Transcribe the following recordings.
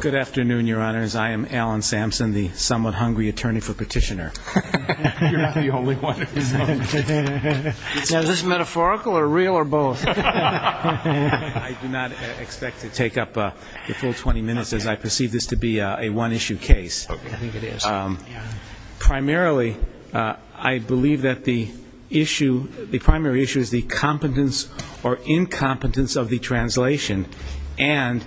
Good afternoon, Your Honors. I am Alan Sampson, the somewhat hungry attorney for petitioner. I do not expect to take up the full 20 minutes as I perceive this to be a one-issue case. Primarily, I believe that the issue, the primary issue, is the competence or incompetence of the translation and,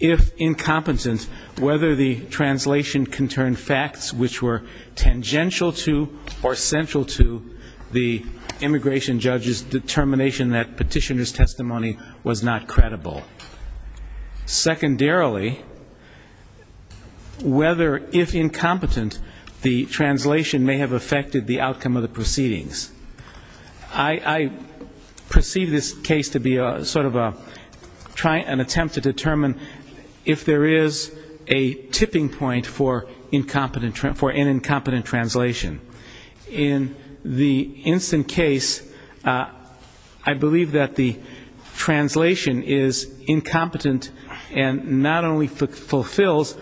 if incompetent, whether the translation conterned facts which were tangential to or central to the immigration judge's determination that petitioner's testimony was not credible. Secondarily, whether, if incompetent, the translation may have affected the outcome of the proceedings. I perceive this case to be sort of an attempt to determine if there is a tipping point for an incompetent translation. In the instant case, I believe that the translation is incompetent and not only fulfills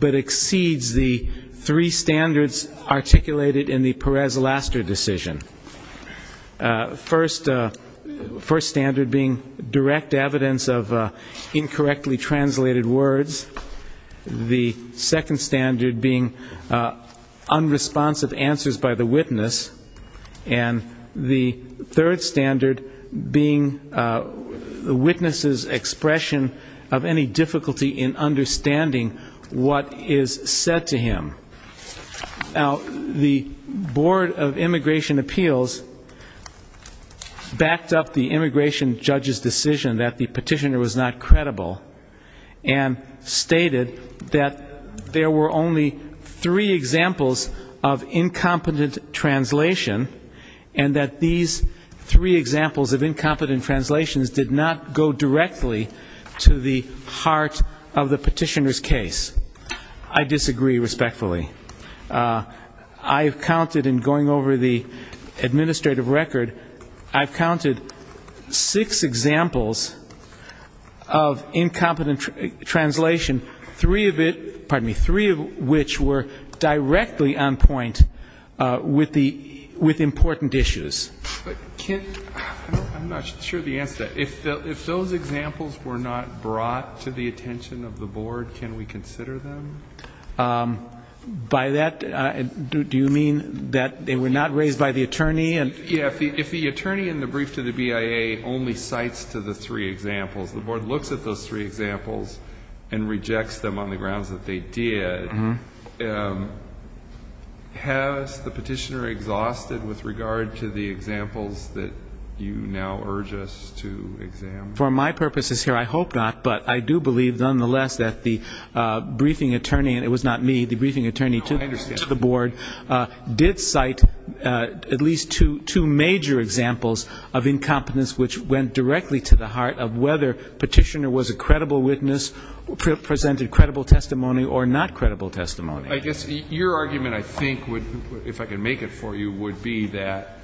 but exceeds the three standards articulated in the Perez-Laster decision. First standard being direct evidence of incorrectly translated words. The second standard being unresponsive answers by the witness. And the third standard being the witness's expression of any difficulty in understanding what is said to him. Now, the Board of Immigration Appeals backed up the immigration judge's decision that the petitioner was not credible and stated that there were only three examples of incompetent translation and that these three examples of incompetent translations did not go directly to the heart of the petitioner's case. I disagree respectfully. I've counted in going over the administrative record, I've counted six examples of incompetent translation, three of it, pardon me, three of which were directly on point with the, with important issues. I'm not sure of the answer to that. If those examples were not brought to the attention of the board, can we consider them? By that, do you mean that they were not raised by the attorney? Yeah, if the attorney in the brief to the BIA only cites to the three examples, the board looks at those three examples and rejects them on the grounds that they did, Has the petitioner exhausted with regard to the examples that you now urge us to examine? For my purposes here, I hope not, but I do believe nonetheless that the briefing attorney, and it was not me, the briefing attorney to the board, did cite at least two major examples of incompetence which went directly to the heart of whether petitioner was a credible witness, presented credible testimony or not credible testimony. I guess your argument, I think, if I can make it for you, would be that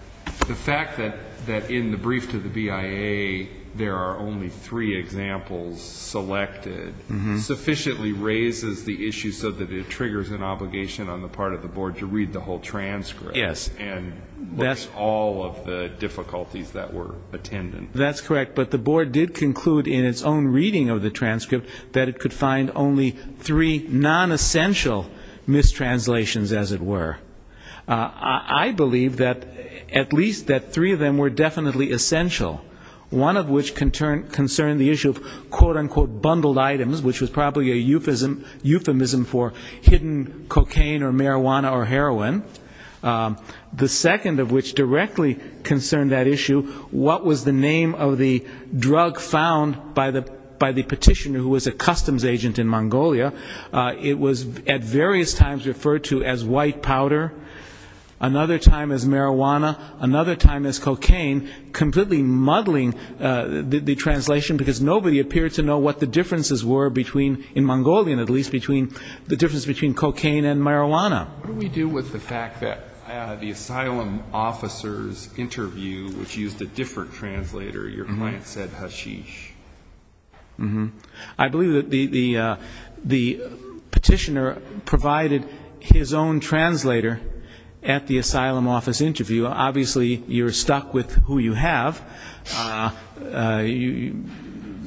the fact that in the brief to the BIA there are only three examples selected sufficiently raises the issue so that it triggers an obligation on the part of the board to read the whole transcript. Yes. And look at all of the difficulties that were attended. That's correct. But the board did conclude in its own reading of the transcript that it could find only three nonessential mistranslations, as it were. I believe that at least that three of them were definitely essential. One of which concerned the issue of, quote, unquote, bundled items, which was probably a euphemism for hidden cocaine or marijuana or heroin. The second of which directly concerned that issue, what was the name of the drug found by the petitioner who was a customs agent in Mongolia. It was at various times referred to as white powder, another time as marijuana, another time as cocaine, completely muddling the translation because nobody appeared to know what the differences were between, in Mongolian at least, between the difference between cocaine and marijuana. What do we do with the fact that the asylum officer's interview, which used a different translator, your client said hashish? I believe that the petitioner provided his own translator at the asylum office interview. Obviously, you're stuck with who you have.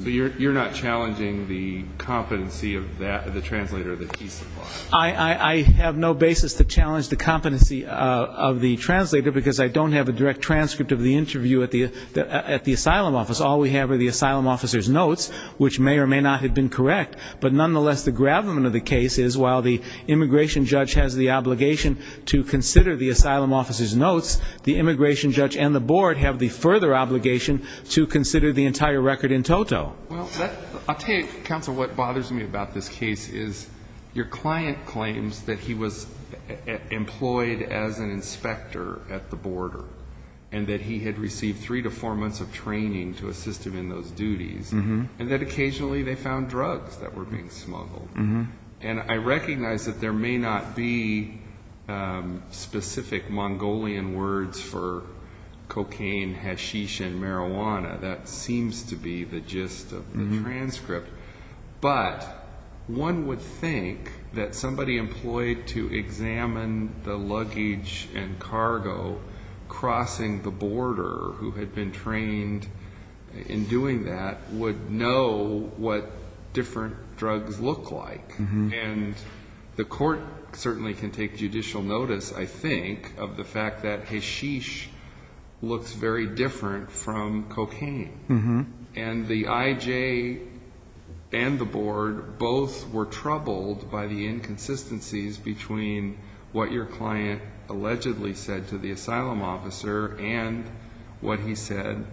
So you're not challenging the competency of the translator that he supplied? I have no basis to challenge the competency of the translator, because I don't have a direct transcript of the interview at the asylum office. All we have are the asylum officer's notes, which may or may not have been correct. But nonetheless, the gravamen of the case is while the immigration judge has the obligation to consider the asylum officer's notes, the immigration judge and the board have the further obligation to consider the entire record in toto. Well, I'll tell you, counsel, what bothers me about this case is your client claims that he was employed as an inspector at the border, and that he had received three to four months of training to assist him in those duties, and that occasionally they found drugs that were being smuggled. And I recognize that there may not be specific Mongolian words for cocaine, hashish, and marijuana. That seems to be the gist of the transcript. But one would think that somebody employed to examine the luggage and cargo crossing the border who had been trained in doing that would know what different drugs look like. And the court certainly can take judicial notice, I think, of the fact that hashish looks very different from cocaine. And the IJ and the board both were troubled by the inconsistencies between what your client allegedly said to the asylum officer and what he said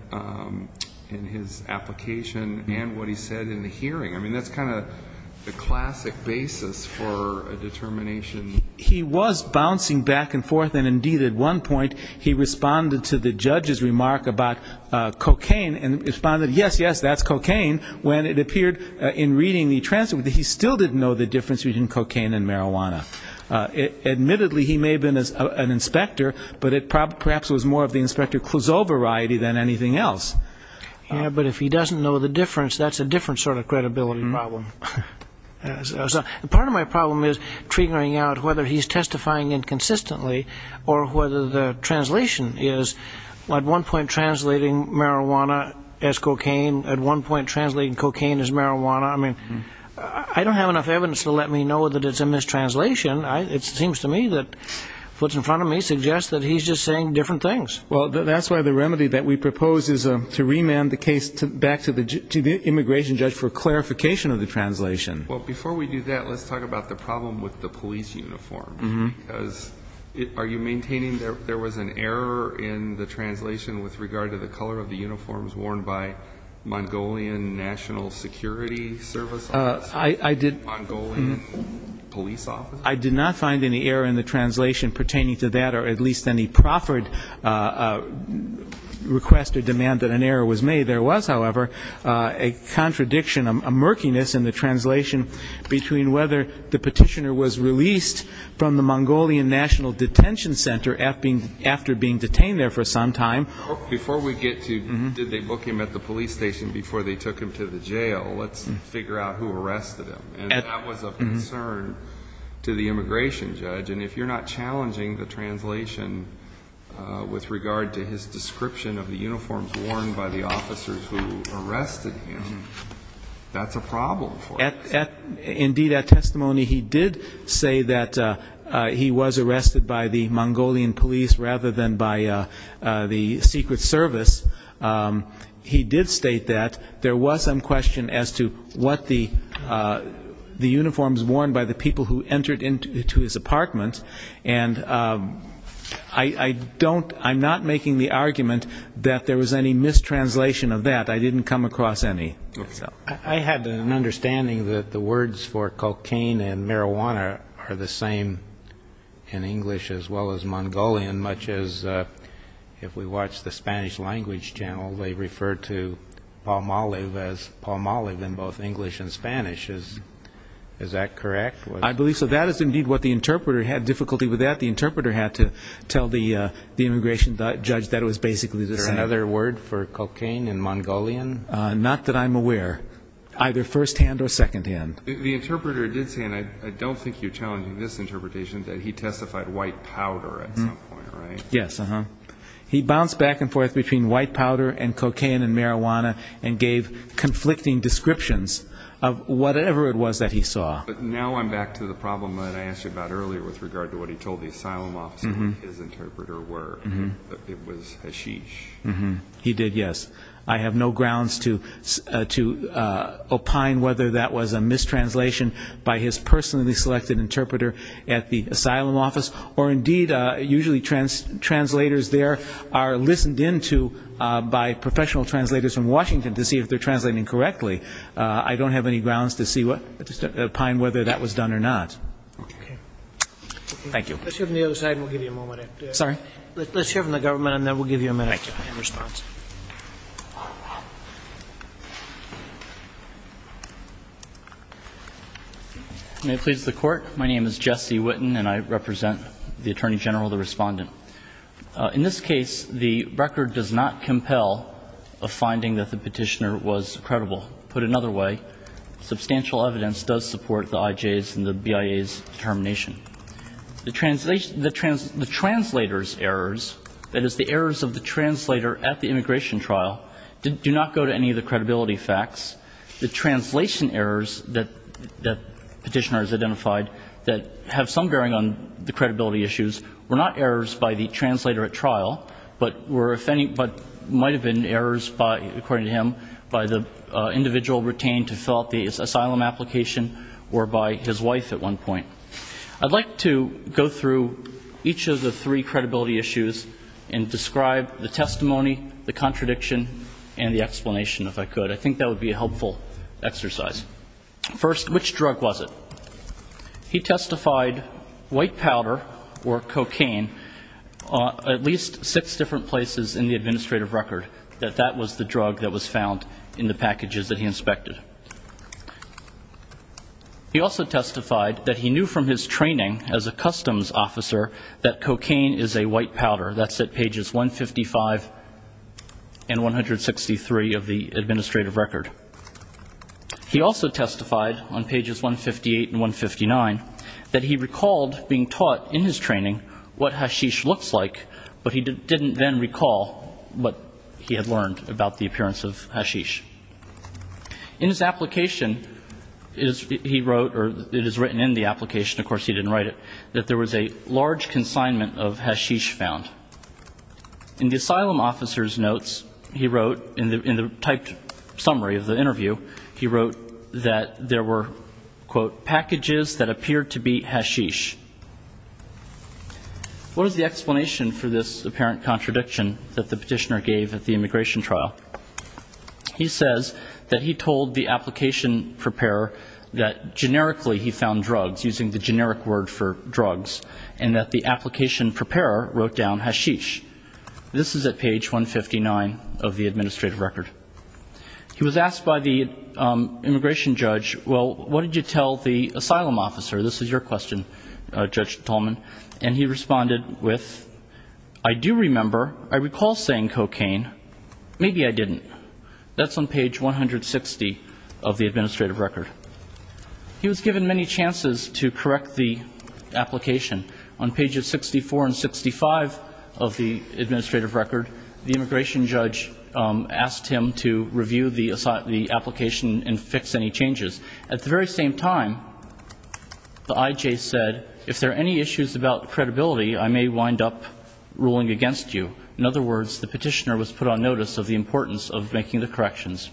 in his application and what he said in the hearing. I mean, that's kind of the classic basis for a determination. He was bouncing back and forth, and indeed at one point he responded to the judge's remark about cocaine and responded, yes, yes, that's cocaine, when it appeared in reading the transcript that he still didn't know the difference between cocaine and marijuana. Admittedly, he may have been an inspector, but it perhaps was more of the Inspector Clouseau variety than anything else. Yeah, but if he doesn't know the difference, that's a different sort of credibility problem. Part of my problem is triggering out whether he's testifying inconsistently or whether the translation is at one point translating marijuana as cocaine, at one point translating cocaine as marijuana. I mean, I don't have enough evidence to let me know that it's a mistranslation. It seems to me that what's in front of me suggests that he's just saying different things. Well, that's why the remedy that we propose is to remand the case back to the immigration judge for clarification of the translation. Well, before we do that, let's talk about the problem with the police uniform. Are you maintaining there was an error in the translation with regard to the color of the uniforms worn by Mongolian National Security Service officers, Mongolian police officers? I did not find any error in the translation pertaining to that or at least any proffered request or demand that an error was made. There was, however, a contradiction, a murkiness in the translation between whether the petitioner was released from the Mongolian National Detention Center after being detained there for some time. Before we get to did they book him at the police station before they took him to the jail, let's figure out who arrested him. And that was a concern to the immigration judge. And if you're not challenging the translation with regard to his description of the uniforms worn by the officers who arrested him, that's a problem for us. Indeed, at testimony he did say that he was arrested by the Mongolian police rather than by the Secret Service. He did state that there was some question as to what the uniforms worn by the people who entered into his apartment. And I don't, I'm not making the argument that there was any mistranslation of that. I didn't come across any. I had an understanding that the words for cocaine and marijuana are the same in English as well as Mongolian, much as if we watch the Spanish language, generally they refer to palm olive as palm olive in both English and Spanish. Is that correct? I believe so. That is indeed what the interpreter had difficulty with that. The interpreter had to tell the immigration judge that it was basically another word for cocaine and Mongolian. Not that I'm aware, either firsthand or secondhand. The interpreter did say, and I don't think you're challenging this interpretation, that he testified white powder at some point, right? Yes. He bounced back and forth between white powder and cocaine and marijuana and gave conflicting descriptions of whatever it was that he saw. But now I'm back to the problem that I asked you about earlier with regard to what he told the asylum officer what his interpreter were. It was hashish. He did, yes. I have no grounds to opine whether that was a mistranslation by his personally selected interpreter at the asylum office, or indeed usually translators there are listened into by professional translators from Washington to see if they're translating correctly. I don't have any grounds to opine whether that was done or not. I just hear from the government, and then we'll give you a minute in response. Thank you. May it please the Court. My name is Jesse Witten, and I represent the Attorney General, the Respondent. In this case, the record does not compel a finding that the petitioner was credible. Put another way, substantial evidence does support the IJ's and the BIA's determination. The translators' errors, that is, the errors of the translator at the immigration trial, do not go to any of the credibility facts. The translation errors that the petitioner has identified that have some bearing on the credibility issues were not errors by the translator at trial, but were if any but might have been errors by, according to him, by the individual retained to fill out the asylum application or by his wife at one point. I'd like to go through each of the three credibility issues and describe the testimony, the contradiction, and the explanation, if I could. I think that would be a helpful exercise. First, which drug was it? He testified white powder or cocaine at least six different places in the administrative record that that was the drug that was found in the packages that he inspected. He also testified that he knew from his training as a customs officer that cocaine is a white powder. That's at pages 155 and 163 of the administrative record. He also testified on pages 158 and 159 that he recalled being taught in his training what hashish looks like, but he didn't then recall what he had learned about the appearance of hashish. In his application, he wrote, or it is written in the application, of course he didn't write it, that there was a large consignment of hashish found. In the asylum officer's notes, he wrote, in the typed summary of the interview, he wrote that there were, quote, packages that appeared to be hashish. What is the explanation for this apparent contradiction that the petitioner gave at the immigration trial? He says that he told the application preparer that generically he found drugs, using the generic word for drugs, and that the application preparer wrote down hashish. This is at page 159 of the administrative record. He was asked by the immigration judge, well, what did you tell the asylum officer? This is your question, Judge Tolman, and he responded with, I do remember, I recall saying cocaine, maybe I didn't. That's on page 160 of the administrative record. He was given many chances to correct the application. On pages 64 and 65 of the administrative record, the immigration judge asked him to review the application and fix any changes. At the very same time, the IJ said, if there are any issues about credibility, I may wind up ruling against you. In other words, the petitioner was put on notice of the importance of making the corrections.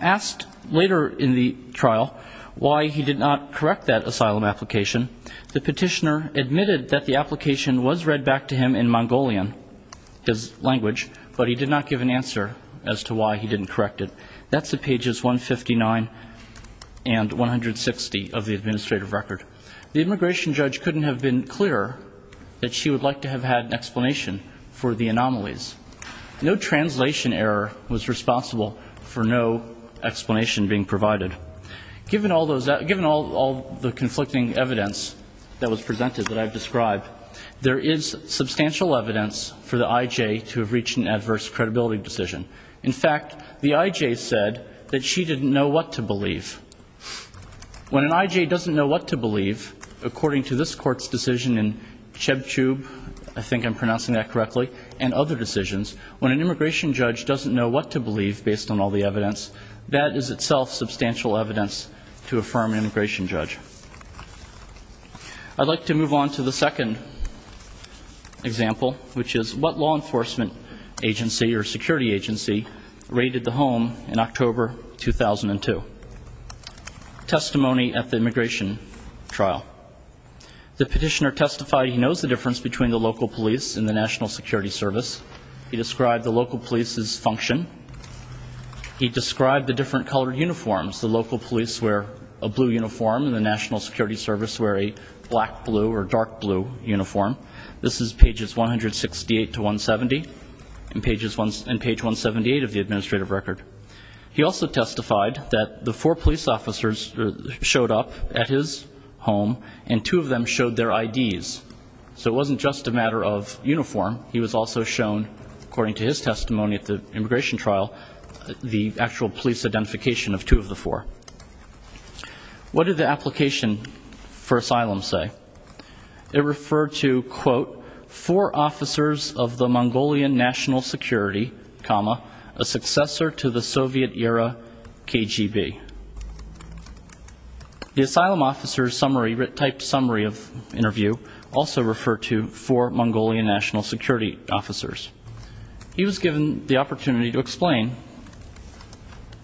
Asked later in the trial why he did not correct that asylum application, the petitioner admitted that the application was read back to him in Mongolian, his language, but he did not give an answer as to why he didn't correct it. That's at pages 159 and 160 of the administrative record. The immigration judge couldn't have been clearer that she would like to have had an explanation for the anomalies. No translation error was responsible for no explanation being provided. Given all the conflicting evidence that was presented that I've described, there is substantial evidence for the IJ to have reached an adverse credibility decision. In fact, the IJ said that she didn't know what to believe. When an IJ doesn't know what to believe, according to this Court's decision in Chebchub, I think I'm pronouncing that correctly, and other decisions, when an immigration judge doesn't know what to believe based on all the evidence, that is itself substantial evidence to affirm an immigration judge. I'd like to move on to the second example, which is what law enforcement agency or security agency does not know what to believe. This is what law enforcement agency rated the home in October 2002. Testimony at the immigration trial. The petitioner testified he knows the difference between the local police and the National Security Service. He described the local police's function. He described the different colored uniforms. The local police wear a blue uniform, and the National Security Service wear a black-blue or dark-blue uniform. This is pages 168 to 170, and page 178 of the administrative record. He also testified that the four police officers showed up at his home, and two of them showed their IDs. So it wasn't just a matter of uniform. He was also shown, according to his testimony at the immigration trial, the actual police identification of two of the four. What did the application for asylum say? It referred to, quote, four officers of the Mongolian National Security, comma, a successor to the Soviet-era KGB. The asylum officer's summary, typed summary of interview, also referred to four Mongolian National Security officers. He was given the opportunity to explain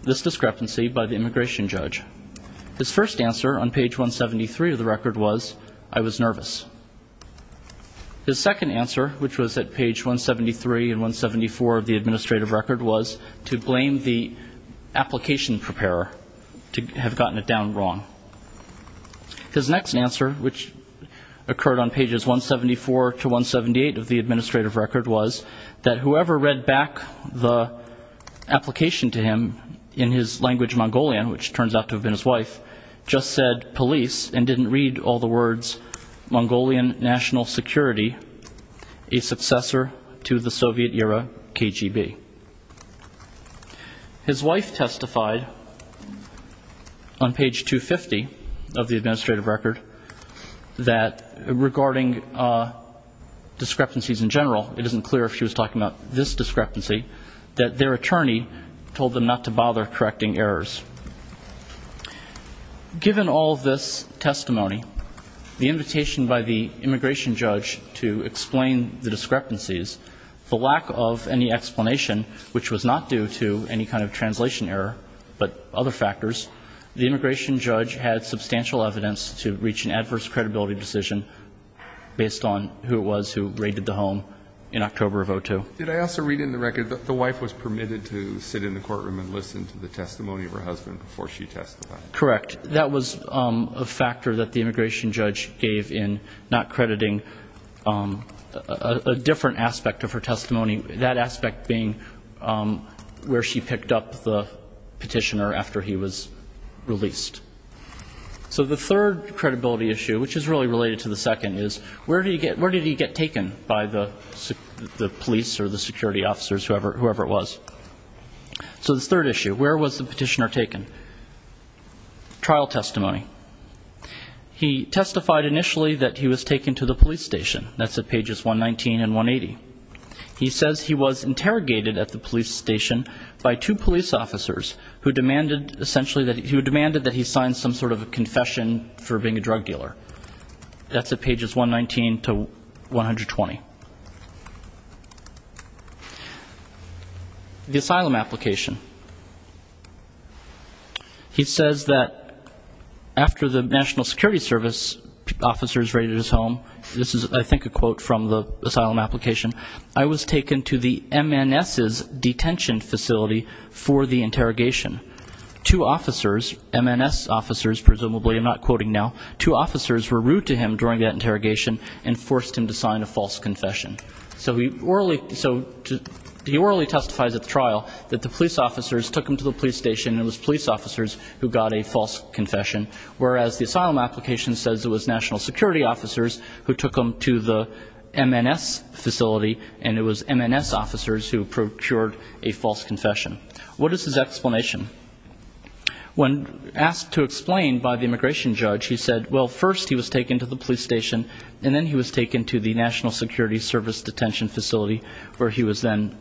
this discrepancy by the immigration judge. His first answer on page 173 of the record was, I was nervous. His second answer, which was at page 173 and 174 of the administrative record, was to blame the application preparer. To have gotten it down wrong. His next answer, which occurred on pages 174 to 178 of the administrative record, was that whoever read back the application to him in his language Mongolian, which turns out to have been his wife, just said police, and didn't read all the words Mongolian National Security, a successor to the Soviet-era KGB. His wife testified on page 250 of the administrative record that, regarding discrepancies in general, it isn't clear if she was talking about this discrepancy, that their attorney told them not to bother correcting errors. Given all this testimony, the invitation by the immigration judge to explain the discrepancies, the lack of any explanation of the discrepancy, and the fact that the application was in Mongolian, it was clear that there was a discrepancy. In addition, which was not due to any kind of translation error, but other factors, the immigration judge had substantial evidence to reach an adverse credibility decision based on who it was who raided the home in October of 2002. Did I also read in the record that the wife was permitted to sit in the courtroom and listen to the testimony of her husband before she testified? Correct. That was a factor that the immigration judge gave in not crediting a different aspect of her testimony, that aspect being where she picked up the petitioner after he was released. So the third credibility issue, which is really related to the second, is where did he get taken by the police or the security officers, whoever it was? So this third issue, where was the petitioner taken? Trial testimony. He testified initially that he was taken to the police station. That's at pages 119 and 180. He says he was interrogated at the police station by two police officers who demanded essentially that he sign some sort of confession for being a drug dealer. That's at pages 119 to 120. The asylum application. He says that after the National Security Service officers raided his home, this is I think a quote from the asylum application, I was taken to the MNS's detention facility for the interrogation. Two officers, MNS officers presumably, I'm not quoting now, two officers were rude to him during that interrogation and forced him to sign a false confession. So he orally testifies at the trial that the police officers took him to the police station and it was police officers who got a false confession, whereas the asylum application says it was National Security officers who took him to the MNS facility and it was MNS officers who procured a false confession. What is his explanation? When asked to explain by the immigration judge, he said, well, first he was taken to the police station and then he was taken to the National Security Service detention facility where he was then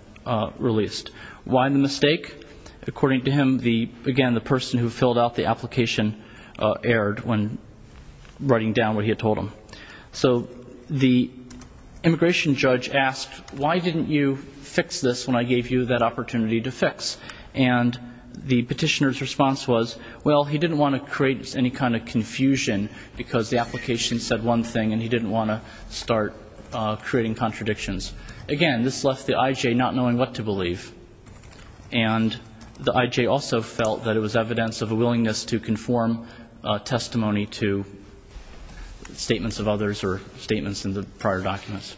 released. Why the mistake? According to him, again, the person who filled out the application erred when writing down what he had told him. So the immigration judge asked, why didn't you fix this when I gave you that opportunity to fix? And the petitioner's response was, well, he didn't want to create any kind of confusion because the application said one thing and he didn't want to start creating contradictions. Again, this left the IJ not knowing what to believe. And the IJ also felt that it was evidence of a willingness to conform testimony to statements of others or statements in the prior documents.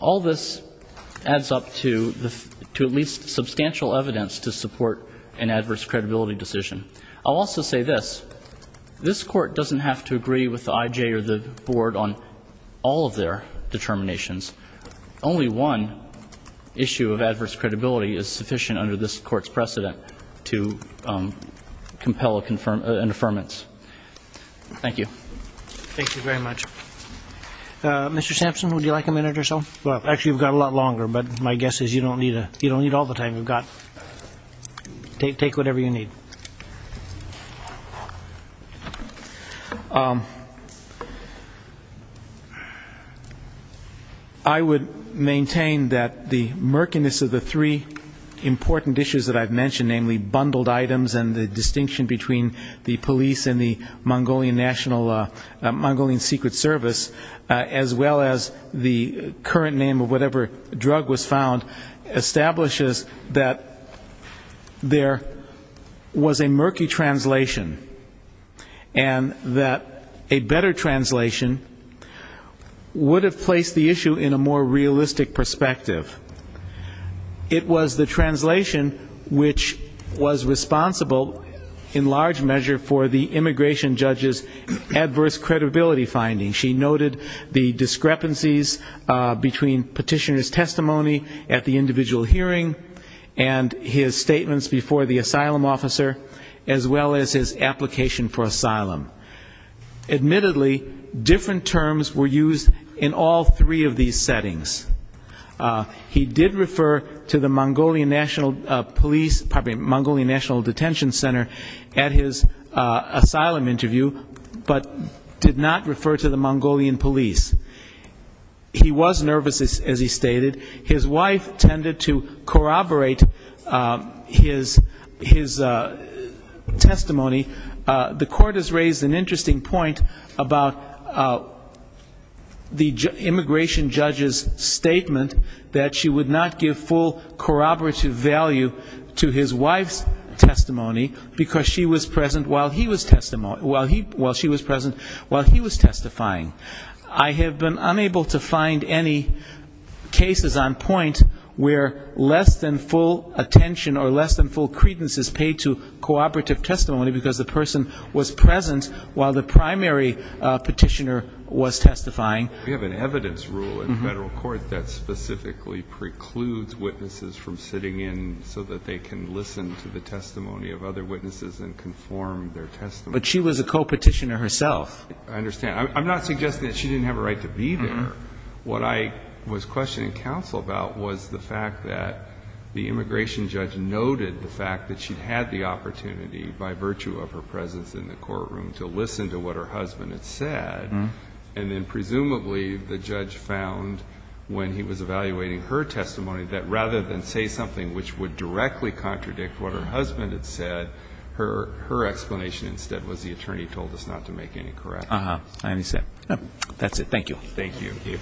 All this adds up to at least substantial evidence to support an adverse credibility decision. I'll also say this. This Court doesn't have to agree with the IJ or the Board on all of their determinations. Only one issue of adverse credibility is sufficient under this Court's precedent to compel an affirmance. Thank you. Thank you very much. Mr. Sampson, would you like a minute or so? Actually, you've got a lot longer, but my guess is you don't need all the time. Take whatever you need. I would maintain that the murkiness of the three important issues that I've mentioned, namely bundled items and the distinction between the police and the IJ, and the Mongolian National, Mongolian Secret Service, as well as the current name of whatever drug was found, establishes that there was a murky translation, and that a better translation would have placed the issue in a more realistic perspective. It was the translation which was responsible in large measure for the immigration of the IJ to Mongolia. It was the immigration judge's adverse credibility finding. She noted the discrepancies between petitioner's testimony at the individual hearing and his statements before the asylum officer, as well as his application for asylum. Admittedly, different terms were used in all three of these settings. He did refer to the Mongolian National Police, Mongolian National Detention Center at his asylum visit. He did not refer to the Mongolian police. He was nervous, as he stated. His wife tended to corroborate his testimony. The court has raised an interesting point about the immigration judge's statement that she would not give full corroborative value to his wife's testimony, because she was present while he was testifying. I have been unable to find any cases on point where less than full attention or less than full credence is paid to corroborative testimony, because the person was present while the primary petitioner was testifying. We have an evidence rule in federal court that specifically precludes witnesses from sitting in so that they can listen to the testimony of other people. The court has raised an interesting point about the immigration judge's statement that she would not give full corroborative value to his testimony, because he was present while the primary petitioner was testifying. The court has raised an interesting point about the immigration judge's statement that she would not give full corroborative value to his testimony, because he was present while the primary petitioner was testifying. Thank you.